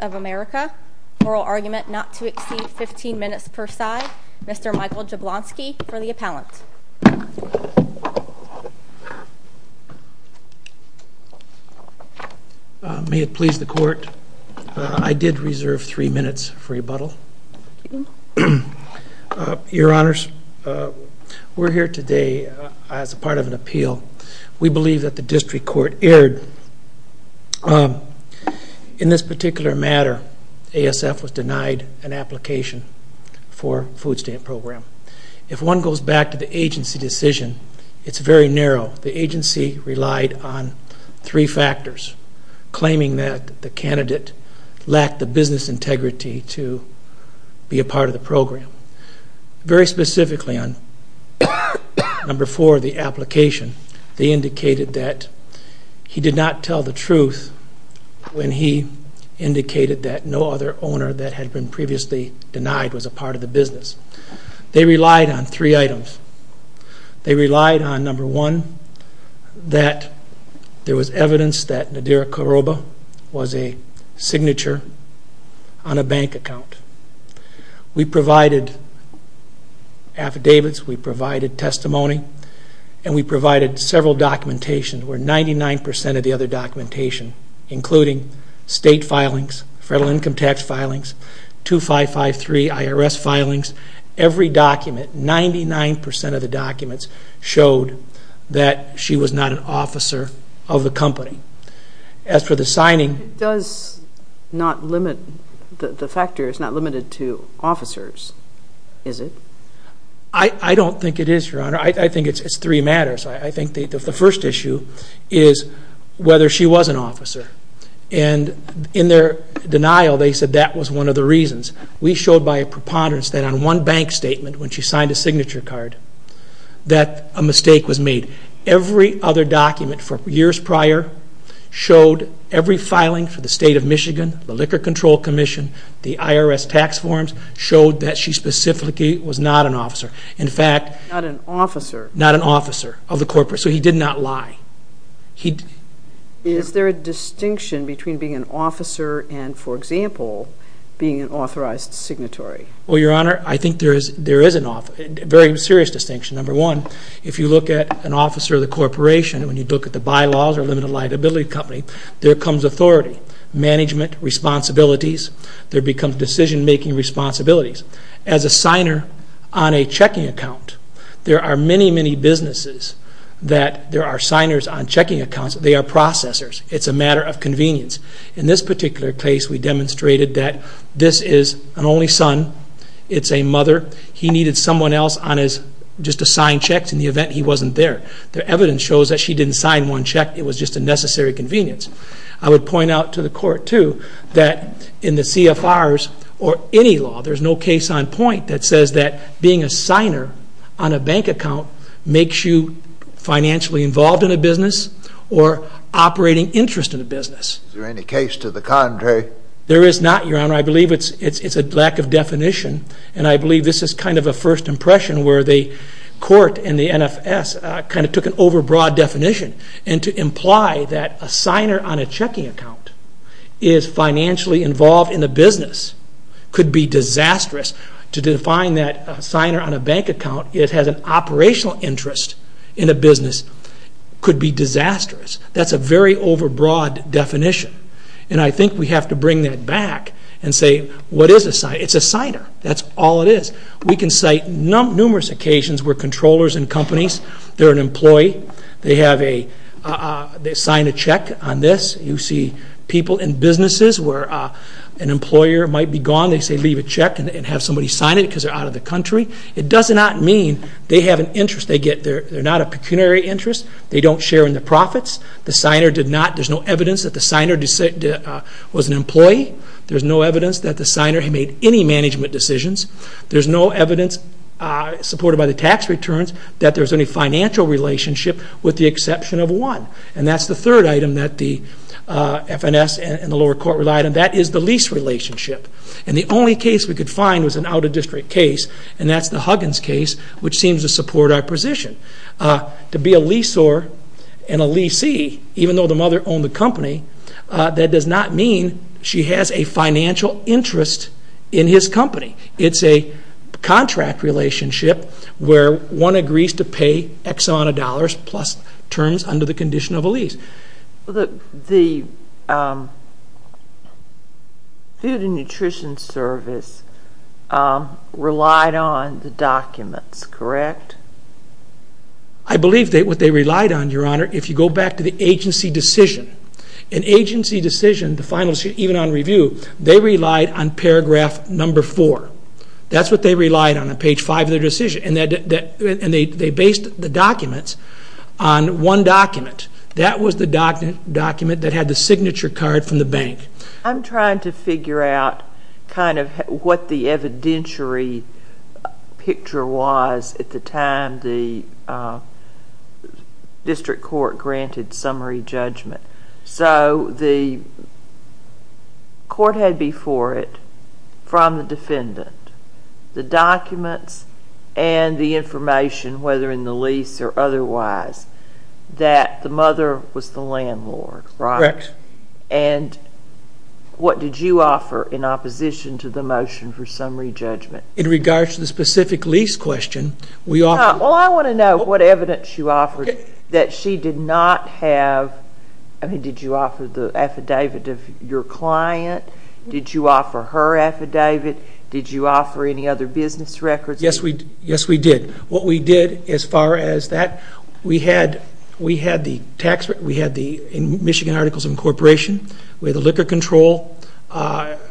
of America, oral argument not to exceed 15 minutes per side, Mr. Michael Jablonski for the appellant. May it please the Court, I did reserve three minutes for rebuttal. Your Honors, we're here today as part of an appeal. We believe that the District Court erred. In this particular matter, ASF was denied an application for food stamp program. If one goes back to the agency decision, it's very narrow. The agency relied on three factors, claiming that the candidate lacked the business integrity to be a part of the program. Very specifically on number four, the application, they indicated that he did not tell the truth when he indicated that no other owner that had been previously denied was a part of the business. They relied on three items. They relied on number one, that there was evidence that Nadira We provided affidavits, we provided testimony, and we provided several documentation where 99% of the other documentation, including state filings, federal income tax filings, 2553 IRS filings, every document, 99% of the documents showed that she was not an officer of the company. As for the signing... It does not limit, the factor is not limited to officers, is it? I don't think it is, Your Honor. I think it's three matters. I think the first issue is whether she was an officer. And in their denial, they said that was one of the reasons. We showed by a preponderance that on one bank statement, when she signed a signature card, that a mistake was made. Every other document from years prior showed every filing for the state of Michigan, the Liquor Control Commission, the IRS tax forms, showed that she specifically was not an officer. In fact... Not an officer. Not an officer of the corporate. So he did not lie. Is there a distinction between being an officer and, for example, being an authorized signatory? Well, Your Honor, I think there is a very serious distinction. Number one, if you look at an officer of the corporation, when you look at the bylaws or limited liability company, there comes authority, management responsibilities, there becomes decision-making responsibilities. As a signer on a checking account, there are many, many businesses that there are signers on checking accounts. They are processors. It's a matter of convenience. In this particular case, we demonstrated that this is an only son. It's a mother. He needed someone else just to sign checks in the event he wasn't there. The evidence shows that she didn't sign one check. It was just a necessary convenience. I would point out to the court, too, that in the CFRs or any law, there's no case on point that says that being a signer on a bank account makes you financially involved in a business or operating interest in a business. Is there any case to the contrary? There is not, Your Honor. I believe it's a lack of definition, and I believe this is kind of a first impression where the court and the NFS kind of took an overbroad definition. To imply that a signer on a checking account is financially involved in a business could be disastrous. To define that a signer on a bank account has an operational interest in a business could be disastrous. That's a very overbroad definition, and I think we have to bring that back and say, what is a signer? It's a signer. That's all it is. We can cite numerous occasions where controllers and companies, they're an employee, they sign a check on this. You see people in businesses where an employer might be gone, they say leave a check and have somebody sign it because they're out of the country. It does not mean they have an interest. They're not a pecuniary interest. They don't share in the profits. The signer did not. There's no evidence that the signer was an employee. There's no evidence that the signer had made any management decisions. There's no evidence supported by the tax returns that there's any financial relationship with the exception of one. And that's the third item that the FNS and the lower court relied on. That is the lease relationship. And the only case we could find was an out-of-district case, and that's the Huggins case, which seems to support our position. To be a leasor and a leasee, even though the mother owned the company, that does not mean she has a financial interest in his company. It's a contract relationship where one agrees to pay X amount of dollars plus terms under the condition of a lease. The Food and Nutrition Service relied on the documents, correct? I believe what they relied on, Your Honor, if you go back to the agency decision, an agency decision, the final decision, even on review, they relied on paragraph number four. That's what they relied on on page five of their decision, and they based the documents on one document. That was the document that had the signature card from the bank. I'm trying to figure out kind of what the evidentiary picture was at the time the district court granted summary judgment. So the court had before it from the defendant the documents and the information, whether in the lease or otherwise, that the mother was the landlord. Correct. And what did you offer in opposition to the motion for summary judgment? In regards to the specific lease question, we offered – Well, I want to know what evidence you offered that she did not have – I mean, did you offer the affidavit of your client? Did you offer her affidavit? Did you offer any other business records? Yes, we did. What we did as far as that, we had the tax – we had the Michigan Articles of Incorporation. We had the liquor control.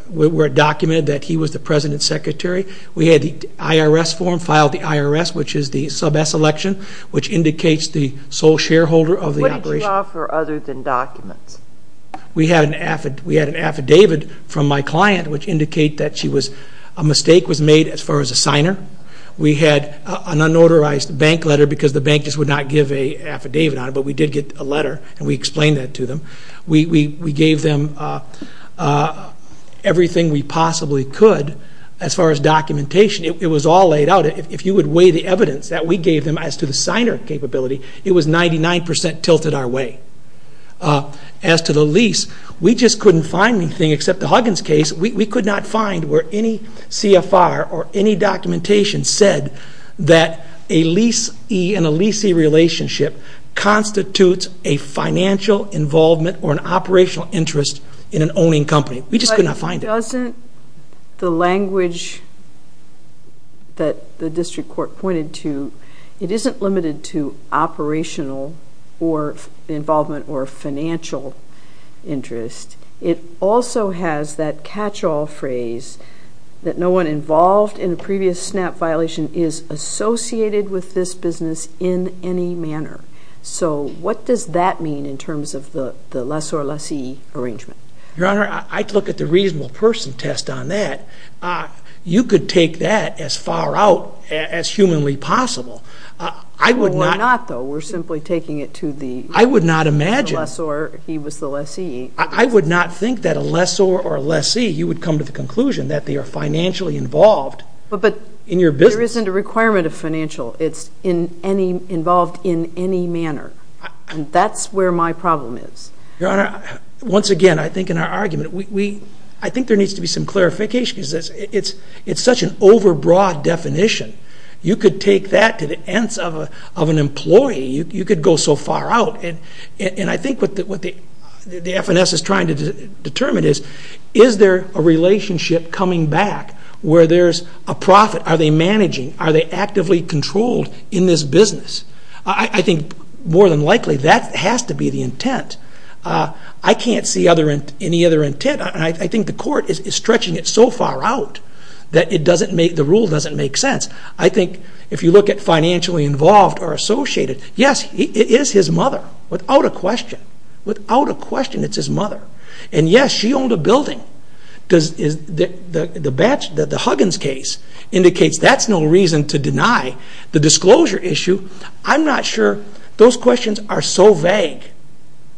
We documented that he was the president's secretary. We had the IRS form, filed the IRS, which is the sub-S election, which indicates the sole shareholder of the operation. What did you offer other than documents? We had an affidavit from my client which indicated that she was – a mistake was made as far as a signer. We had an unauthorized bank letter because the bank just would not give an affidavit on it, but we did get a letter and we explained that to them. We gave them everything we possibly could as far as documentation. It was all laid out. If you would weigh the evidence that we gave them as to the signer capability, it was 99% tilted our way. As to the lease, we just couldn't find anything except the Huggins case. We could not find where any CFR or any documentation said that a leasee and a leasee relationship constitutes a financial involvement or an operational interest in an owning company. We just could not find it. But doesn't the language that the district court pointed to, it isn't limited to operational or involvement or financial interest. It also has that catch-all phrase that no one involved in a previous SNAP violation is associated with this business in any manner. So what does that mean in terms of the lessor-lessee arrangement? Your Honor, I'd look at the reasonable person test on that. You could take that as far out as humanly possible. We're not, though. We're simply taking it to the lessor. I would not imagine. He was the lessee. I would not think that a lessor or a lessee, you would come to the conclusion that they are financially involved in your business. But there isn't a requirement of financial. It's involved in any manner. And that's where my problem is. Your Honor, once again, I think in our argument, I think there needs to be some clarification. It's such an overbroad definition. You could take that to the ends of an employee. You could go so far out. And I think what the FNS is trying to determine is, is there a relationship coming back where there's a profit? Are they managing? Are they actively controlled in this business? I think more than likely that has to be the intent. I can't see any other intent. I think the court is stretching it so far out that the rule doesn't make sense. I think if you look at financially involved or associated, yes, it is his mother, without a question. Without a question, it's his mother. And yes, she owned a building. The Huggins case indicates that's no reason to deny the disclosure issue. I'm not sure. Those questions are so vague,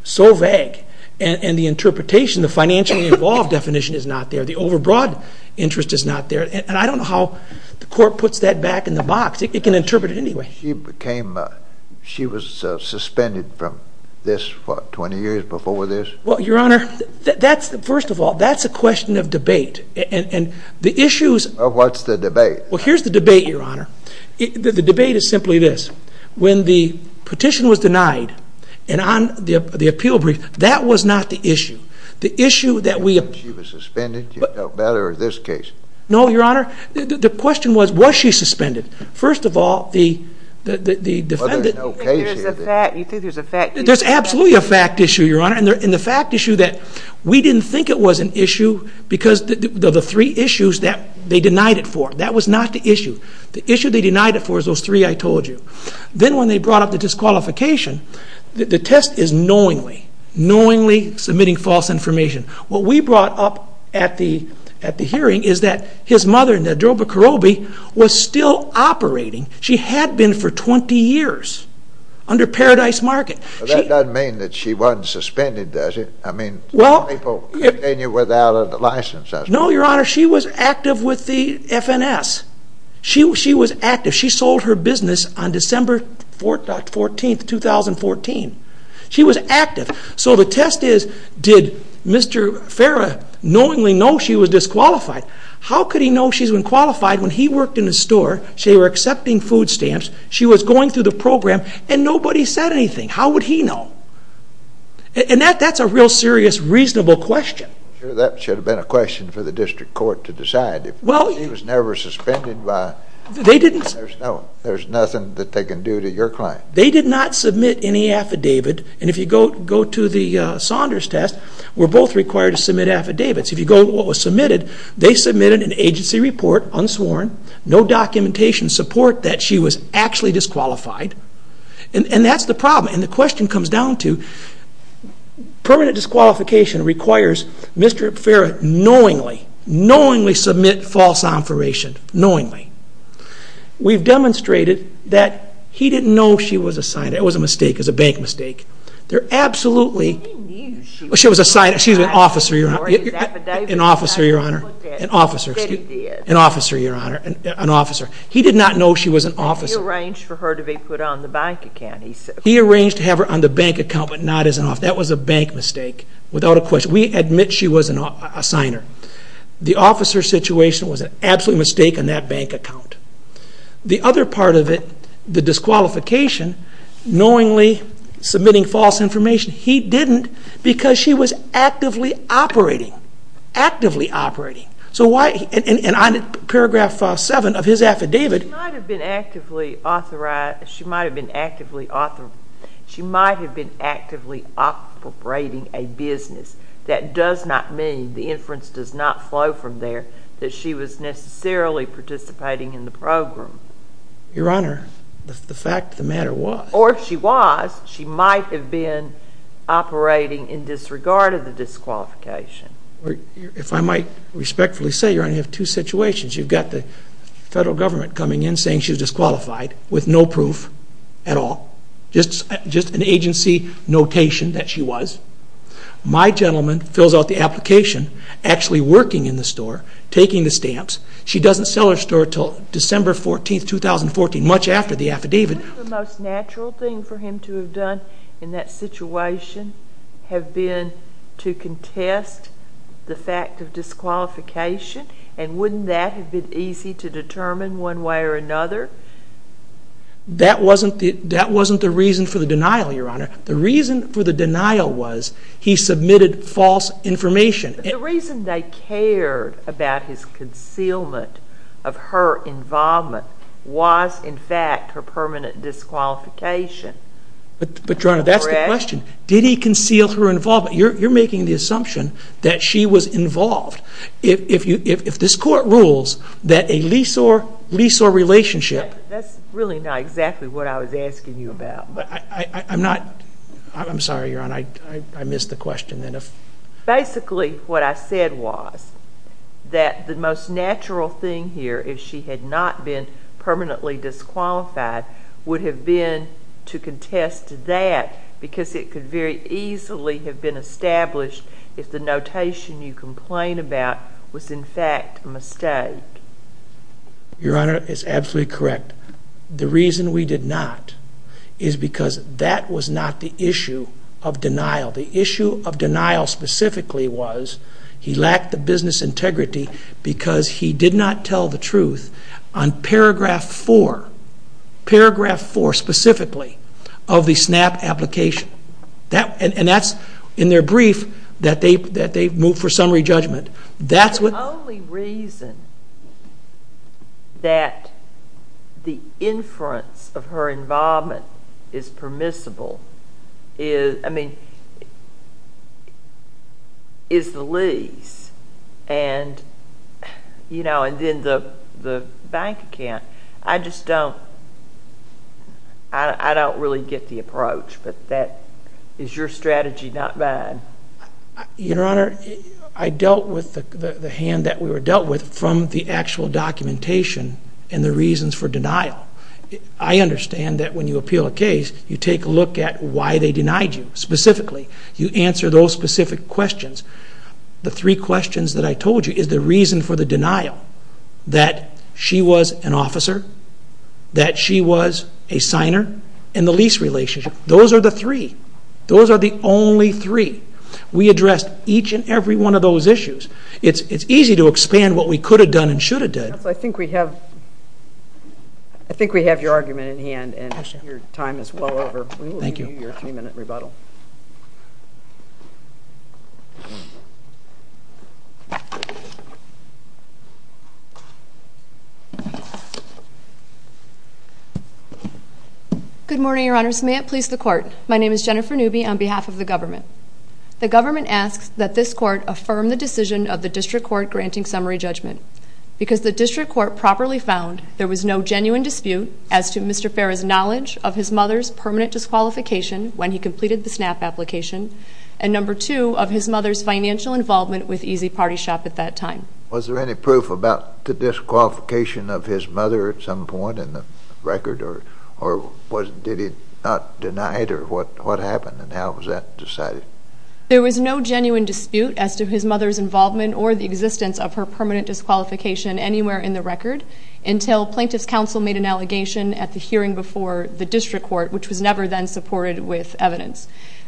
so vague. And the interpretation, the financially involved definition is not there. The overbroad interest is not there. And I don't know how the court puts that back in the box. It can interpret it anyway. She became, she was suspended from this, what, 20 years before this? Well, Your Honor, that's, first of all, that's a question of debate. And the issues. Well, what's the debate? Well, here's the debate, Your Honor. The debate is simply this. When the petition was denied and on the appeal brief, that was not the issue. The issue that we... She was suspended. You know better in this case. No, Your Honor. The question was, was she suspended? First of all, the defendant... Well, there's no case here. You think there's a fact issue? There's absolutely a fact issue, Your Honor. And the fact issue that we didn't think it was an issue because of the three issues that they denied it for. That was not the issue. The issue they denied it for is those three I told you. Then when they brought up the disqualification, the test is knowingly, knowingly submitting false information. What we brought up at the hearing is that his mother, Nedroba Korobe, was still operating. She had been for 20 years under Paradise Market. But that doesn't mean that she wasn't suspended, does it? I mean, people continue without a license. No, Your Honor. She was active with the FNS. She was active. She sold her business on December 14, 2014. She was active. So the test is, did Mr. Farah knowingly know she was disqualified? How could he know she's been qualified when he worked in the store? They were accepting food stamps. She was going through the program, and nobody said anything. How would he know? And that's a real serious, reasonable question. That should have been a question for the district court to decide. She was never suspended by... They didn't... There's nothing that they can do to your claim. They did not submit any affidavit. And if you go to the Saunders test, we're both required to submit affidavits. If you go to what was submitted, they submitted an agency report, unsworn, no documentation, support that she was actually disqualified. And that's the problem. And the question comes down to permanent disqualification requires Mr. Farah knowingly, knowingly submit false information, knowingly. We've demonstrated that he didn't know she was assigned. That was a mistake. It was a bank mistake. They're absolutely... She was assigned. She's an officer, Your Honor. An officer, Your Honor. An officer, excuse me. An officer, Your Honor. An officer. He did not know she was an officer. He arranged for her to be put on the bank account, he said. He arranged to have her on the bank account but not as an officer. That was a bank mistake without a question. We admit she was an assigner. The officer situation was an absolute mistake on that bank account. The other part of it, the disqualification, knowingly submitting false information, he didn't because she was actively operating. Actively operating. So why... And on paragraph 7 of his affidavit... She might have been actively authorizing... She might have been actively author... She might have been actively operating a business. That does not mean, the inference does not flow from there, that she was necessarily participating in the program. Your Honor, the fact of the matter was... Or if she was, she might have been operating in disregard of the disqualification. If I might respectfully say, Your Honor, you have two situations. You've got the federal government coming in saying she's disqualified with no proof at all. Just an agency notation that she was. My gentleman fills out the application, actually working in the store, taking the stamps. She doesn't sell her store until December 14, 2014, much after the affidavit. Wouldn't the most natural thing for him to have done in that situation have been to contest the fact of disqualification? And wouldn't that have been easy to determine one way or another? That wasn't the reason for the denial, Your Honor. The reason for the denial was he submitted false information. The reason they cared about his concealment of her involvement was, in fact, her permanent disqualification. But, Your Honor, that's the question. Did he conceal her involvement? You're making the assumption that she was involved. If this Court rules that a lease or relationship... That's really not exactly what I was asking you about. But I'm not... I'm sorry, Your Honor, I missed the question. Basically, what I said was that the most natural thing here, if she had not been permanently disqualified, would have been to contest that because it could very easily have been established if the notation you complain about was, in fact, a mistake. Your Honor, it's absolutely correct. The reason we did not is because that was not the issue of denial. The issue of denial specifically was he lacked the business integrity because he did not tell the truth on paragraph four. Paragraph four, specifically, of the SNAP application. And that's in their brief that they moved for summary judgment. The only reason that the inference of her involvement is permissible is the lease and then the bank account. I just don't... I don't really get the approach, but is your strategy not mine? Your Honor, I dealt with the hand that we were dealt with from the actual documentation and the reasons for denial. I understand that when you appeal a case, you take a look at why they denied you, specifically. You answer those specific questions. The three questions that I told you is the reason for the denial, that she was an officer, that she was a signer, and the lease relationship. Those are the three. Those are the only three. We addressed each and every one of those issues. It's easy to expand what we could have done and should have done. Counsel, I think we have your argument in hand, and your time is well over. Thank you. We will give you your three-minute rebuttal. Good morning, Your Honors. May it please the Court. My name is Jennifer Newby on behalf of the government. The government asks that this court affirm the decision of the district court granting summary judgment. Because the district court properly found there was no genuine dispute as to Mr. Ferra's knowledge of his mother's permanent disqualification when he completed the SNAP application, and number two, of his mother's financial involvement with Easy Party Shop at that time. Was there any proof about the disqualification of his mother at some point in the record? Or did he not deny it, or what happened, and how was that decided? There was no genuine dispute as to his mother's involvement or the existence of her permanent disqualification anywhere in the record until plaintiff's counsel made an allegation at the hearing before the district court, which was never then supported with evidence.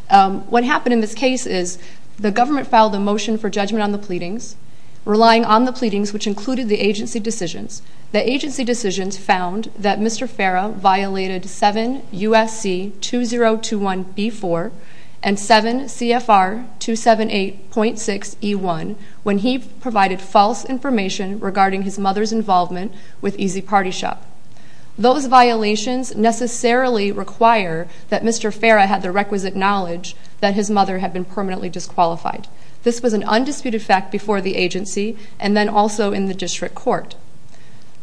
What happened in this case is the government filed a motion for judgment on the pleadings, relying on the pleadings, which included the agency decisions. The agency decisions found that Mr. Ferra violated 7 U.S.C. 2021b4 and 7 C.F.R. 278.6e1 when he provided false information regarding his mother's involvement with Easy Party Shop. Those violations necessarily require that Mr. Ferra had the requisite knowledge that his mother had been permanently disqualified. This was an undisputed fact before the agency and then also in the district court.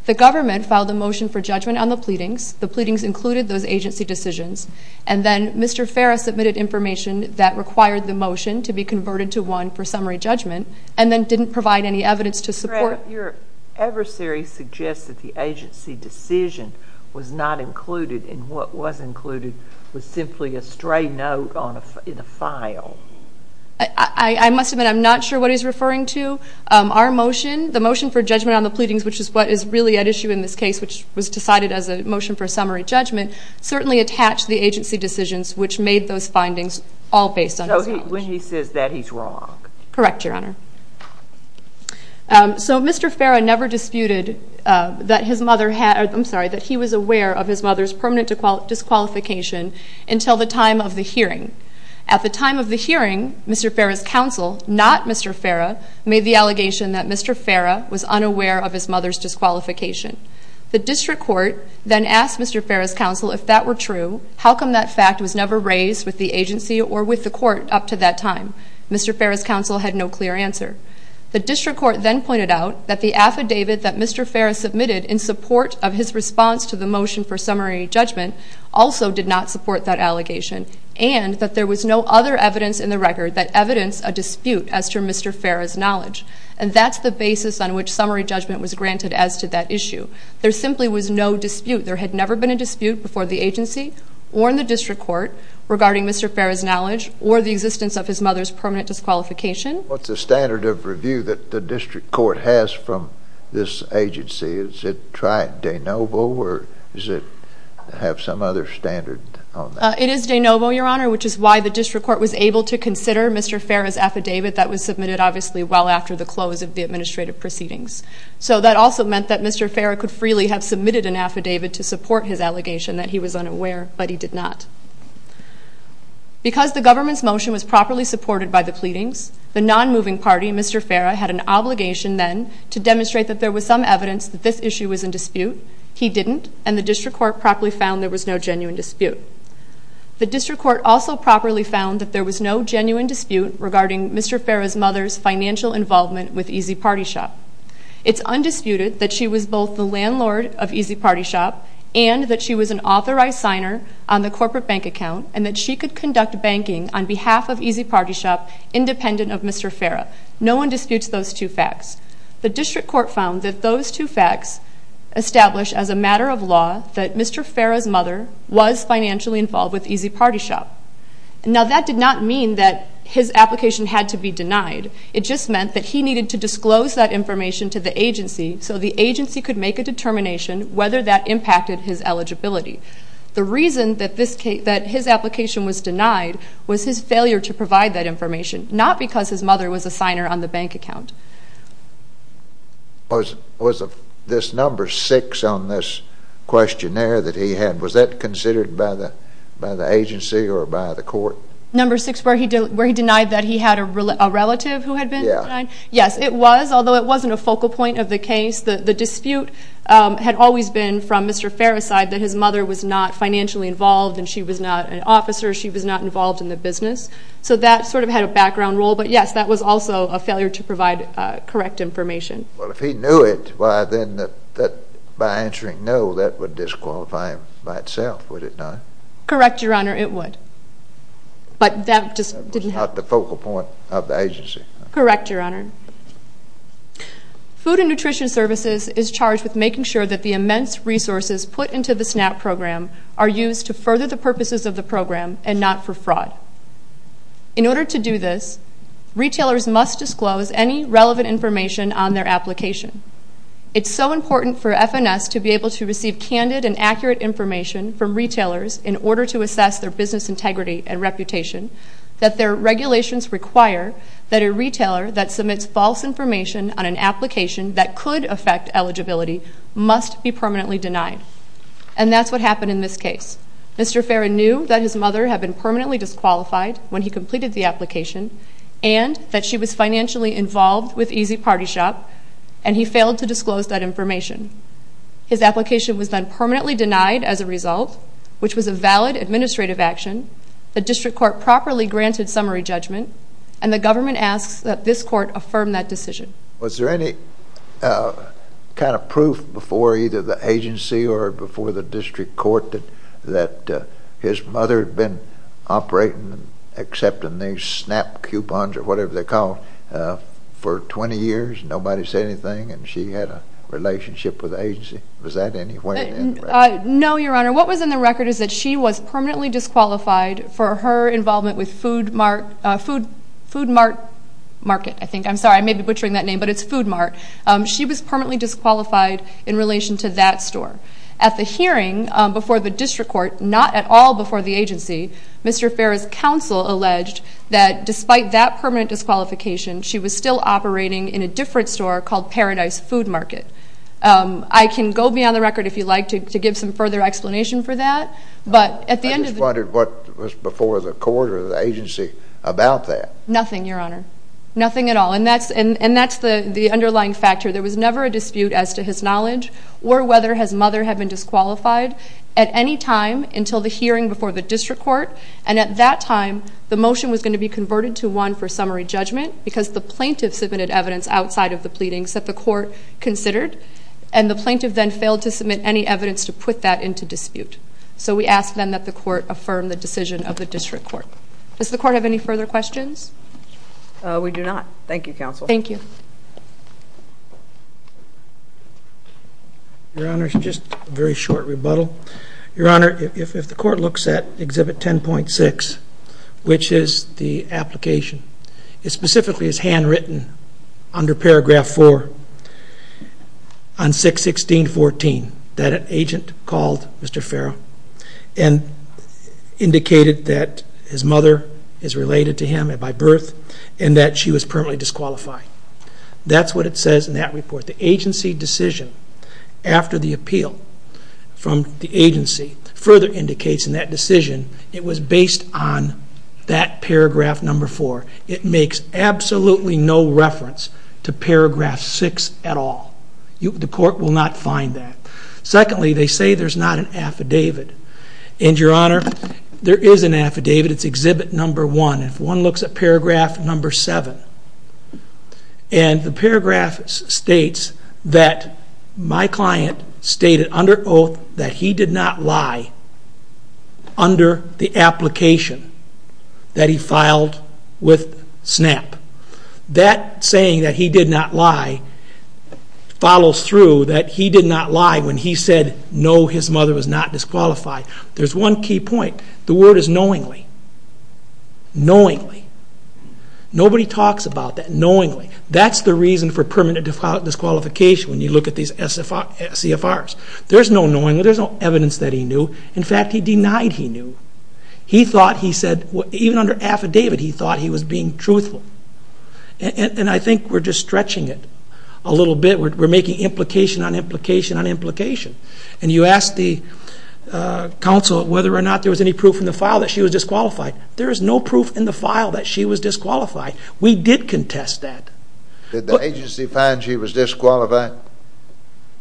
The government filed a motion for judgment on the pleadings. The pleadings included those agency decisions, and then Mr. Ferra submitted information that required the motion to be converted to one for summary judgment and then didn't provide any evidence to support it. Your adversary suggests that the agency decision was not included, and what was included was simply a stray note in a file. I must admit I'm not sure what he's referring to. Our motion, the motion for judgment on the pleadings, which is what is really at issue in this case, which was decided as a motion for summary judgment, certainly attached the agency decisions, which made those findings all based on his knowledge. So when he says that, he's wrong. Correct, Your Honor. So Mr. Ferra never disputed that he was aware of his mother's permanent disqualification until the time of the hearing. At the time of the hearing, Mr. Ferra's counsel, not Mr. Ferra, made the allegation that Mr. Ferra was unaware of his mother's disqualification. The district court then asked Mr. Ferra's counsel if that were true, how come that fact was never raised with the agency or with the court up to that time. Mr. Ferra's counsel had no clear answer. The district court then pointed out that the affidavit that Mr. Ferra submitted in support of his response to the motion for summary judgment also did not support that allegation and that there was no other evidence in the record that evidenced a dispute as to Mr. Ferra's knowledge. And that's the basis on which summary judgment was granted as to that issue. There simply was no dispute. There had never been a dispute before the agency or in the district court regarding Mr. Ferra's knowledge or the existence of his mother's permanent disqualification. What's the standard of review that the district court has from this agency? Is it trite de novo or does it have some other standard on that? It is de novo, Your Honor, which is why the district court was able to consider Mr. Ferra's affidavit that was submitted obviously well after the close of the administrative proceedings. So that also meant that Mr. Ferra could freely have submitted an affidavit to support his allegation that he was unaware, but he did not. Because the government's motion was properly supported by the pleadings, the non-moving party, Mr. Ferra, had an obligation then to demonstrate that there was some evidence that this issue was in dispute. He didn't, and the district court properly found there was no genuine dispute. The district court also properly found that there was no genuine dispute regarding Mr. Ferra's mother's financial involvement with Easy Party Shop. It's undisputed that she was both the landlord of Easy Party Shop and that she was an authorized signer on the corporate bank account and that she could conduct banking on behalf of Easy Party Shop independent of Mr. Ferra. No one disputes those two facts. The district court found that those two facts establish as a matter of law that Mr. Ferra's mother was financially involved with Easy Party Shop. Now that did not mean that his application had to be denied. It just meant that he needed to disclose that information to the agency so the agency could make a determination whether that impacted his eligibility. The reason that his application was denied was his failure to provide that information, not because his mother was a signer on the bank account. Was this number six on this questionnaire that he had, was that considered by the agency or by the court? Number six where he denied that he had a relative who had been signed? Yes, it was, although it wasn't a focal point of the case. The dispute had always been from Mr. Ferra's side that his mother was not financially involved and she was not an officer, she was not involved in the business. So that sort of had a background role, but yes, that was also a failure to provide correct information. Well, if he knew it, why then by answering no, that would disqualify him by itself, would it not? Correct, Your Honor, it would. But that just didn't help. That was not the focal point of the agency. Correct, Your Honor. Food and Nutrition Services is charged with making sure that the immense resources put into the SNAP program are used to further the purposes of the program and not for fraud. In order to do this, retailers must disclose any relevant information on their application. It's so important for FNS to be able to receive candid and accurate information from retailers in order to assess their business integrity and reputation that their regulations require that a retailer that submits false information on an application that could affect eligibility must be permanently denied. And that's what happened in this case. Mr. Ferrin knew that his mother had been permanently disqualified when he completed the application and that she was financially involved with Easy Party Shop and he failed to disclose that information. His application was then permanently denied as a result, which was a valid administrative action. The district court properly granted summary judgment and the government asks that this court affirm that decision. Was there any kind of proof before either the agency or before the district court that his mother had been operating and accepting these SNAP coupons or whatever they're called for 20 years and nobody said anything and she had a relationship with the agency? Was that anywhere in the record? No, Your Honor. What was in the record is that she was permanently disqualified for her involvement with Food Mart Market, I think. I'm sorry, I may be butchering that name, but it's Food Mart. She was permanently disqualified in relation to that store. At the hearing before the district court, not at all before the agency, Mr. Ferrin's counsel alleged that despite that permanent disqualification, she was still operating in a different store called Paradise Food Market. I can go beyond the record if you'd like to give some further explanation for that. I just wondered what was before the court or the agency about that. Nothing, Your Honor. Nothing at all. And that's the underlying factor. There was never a dispute as to his knowledge or whether his mother had been disqualified at any time until the hearing before the district court, and at that time the motion was going to be converted to one for summary judgment because the plaintiff submitted evidence outside of the pleadings that the court considered and the plaintiff then failed to submit any evidence to put that into dispute. So we ask then that the court affirm the decision of the district court. Does the court have any further questions? We do not. Thank you, counsel. Thank you. Your Honor, just a very short rebuttal. Your Honor, if the court looks at Exhibit 10.6, which is the application, it specifically is handwritten under Paragraph 4 on 616.14 that an agent called Mr. Farrow and indicated that his mother is related to him by birth and that she was permanently disqualified. That's what it says in that report. The agency decision after the appeal from the agency further indicates in that decision it was based on that Paragraph 4. It makes absolutely no reference to Paragraph 6 at all. The court will not find that. Secondly, they say there's not an affidavit. And, Your Honor, there is an affidavit. It's Exhibit 1. If one looks at Paragraph 7, and the paragraph states that my client stated under oath that he did not lie under the application that he filed with SNAP. That saying that he did not lie follows through that he did not lie when he said no, his mother was not disqualified. There's one key point. The word is knowingly. Knowingly. Nobody talks about that. Knowingly. That's the reason for permanent disqualification when you look at these CFRs. There's no knowingly. There's no evidence that he knew. In fact, he denied he knew. He thought he said, even under affidavit, he thought he was being truthful. And I think we're just stretching it a little bit. We're making implication on implication on implication. And you asked the counsel whether or not there was any proof in the file that she was disqualified. There is no proof in the file that she was disqualified. We did contest that. Did the agency find she was disqualified?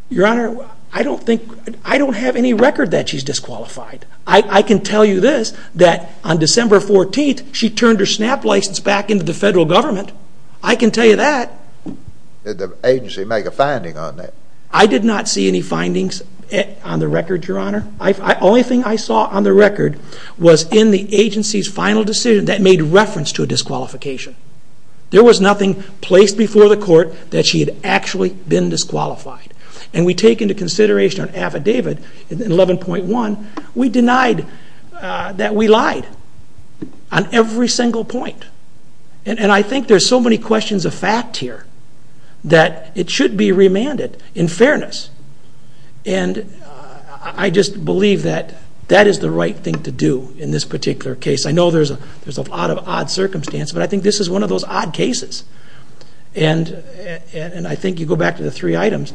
Your Honor, I don't have any record that she's disqualified. I can tell you this, that on December 14th, she turned her SNAP license back into the federal government. I can tell you that. Did the agency make a finding on that? I did not see any findings on the record, Your Honor. The only thing I saw on the record was in the agency's final decision that made reference to a disqualification. There was nothing placed before the court that she had actually been disqualified. And we take into consideration an affidavit in 11.1, we denied that we lied on every single point. And I think there's so many questions of fact here that it should be remanded in fairness. And I just believe that that is the right thing to do in this particular case. I know there's a lot of odd circumstances, but I think this is one of those odd cases. And I think you go back to the three items.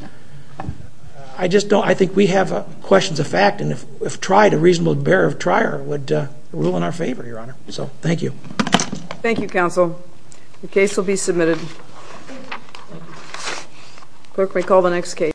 I think we have questions of fact, and if tried, a reasonable bearer of trier would rule in our favor, Your Honor. So, thank you. Thank you, counsel. The case will be submitted. Clerk may call the next case.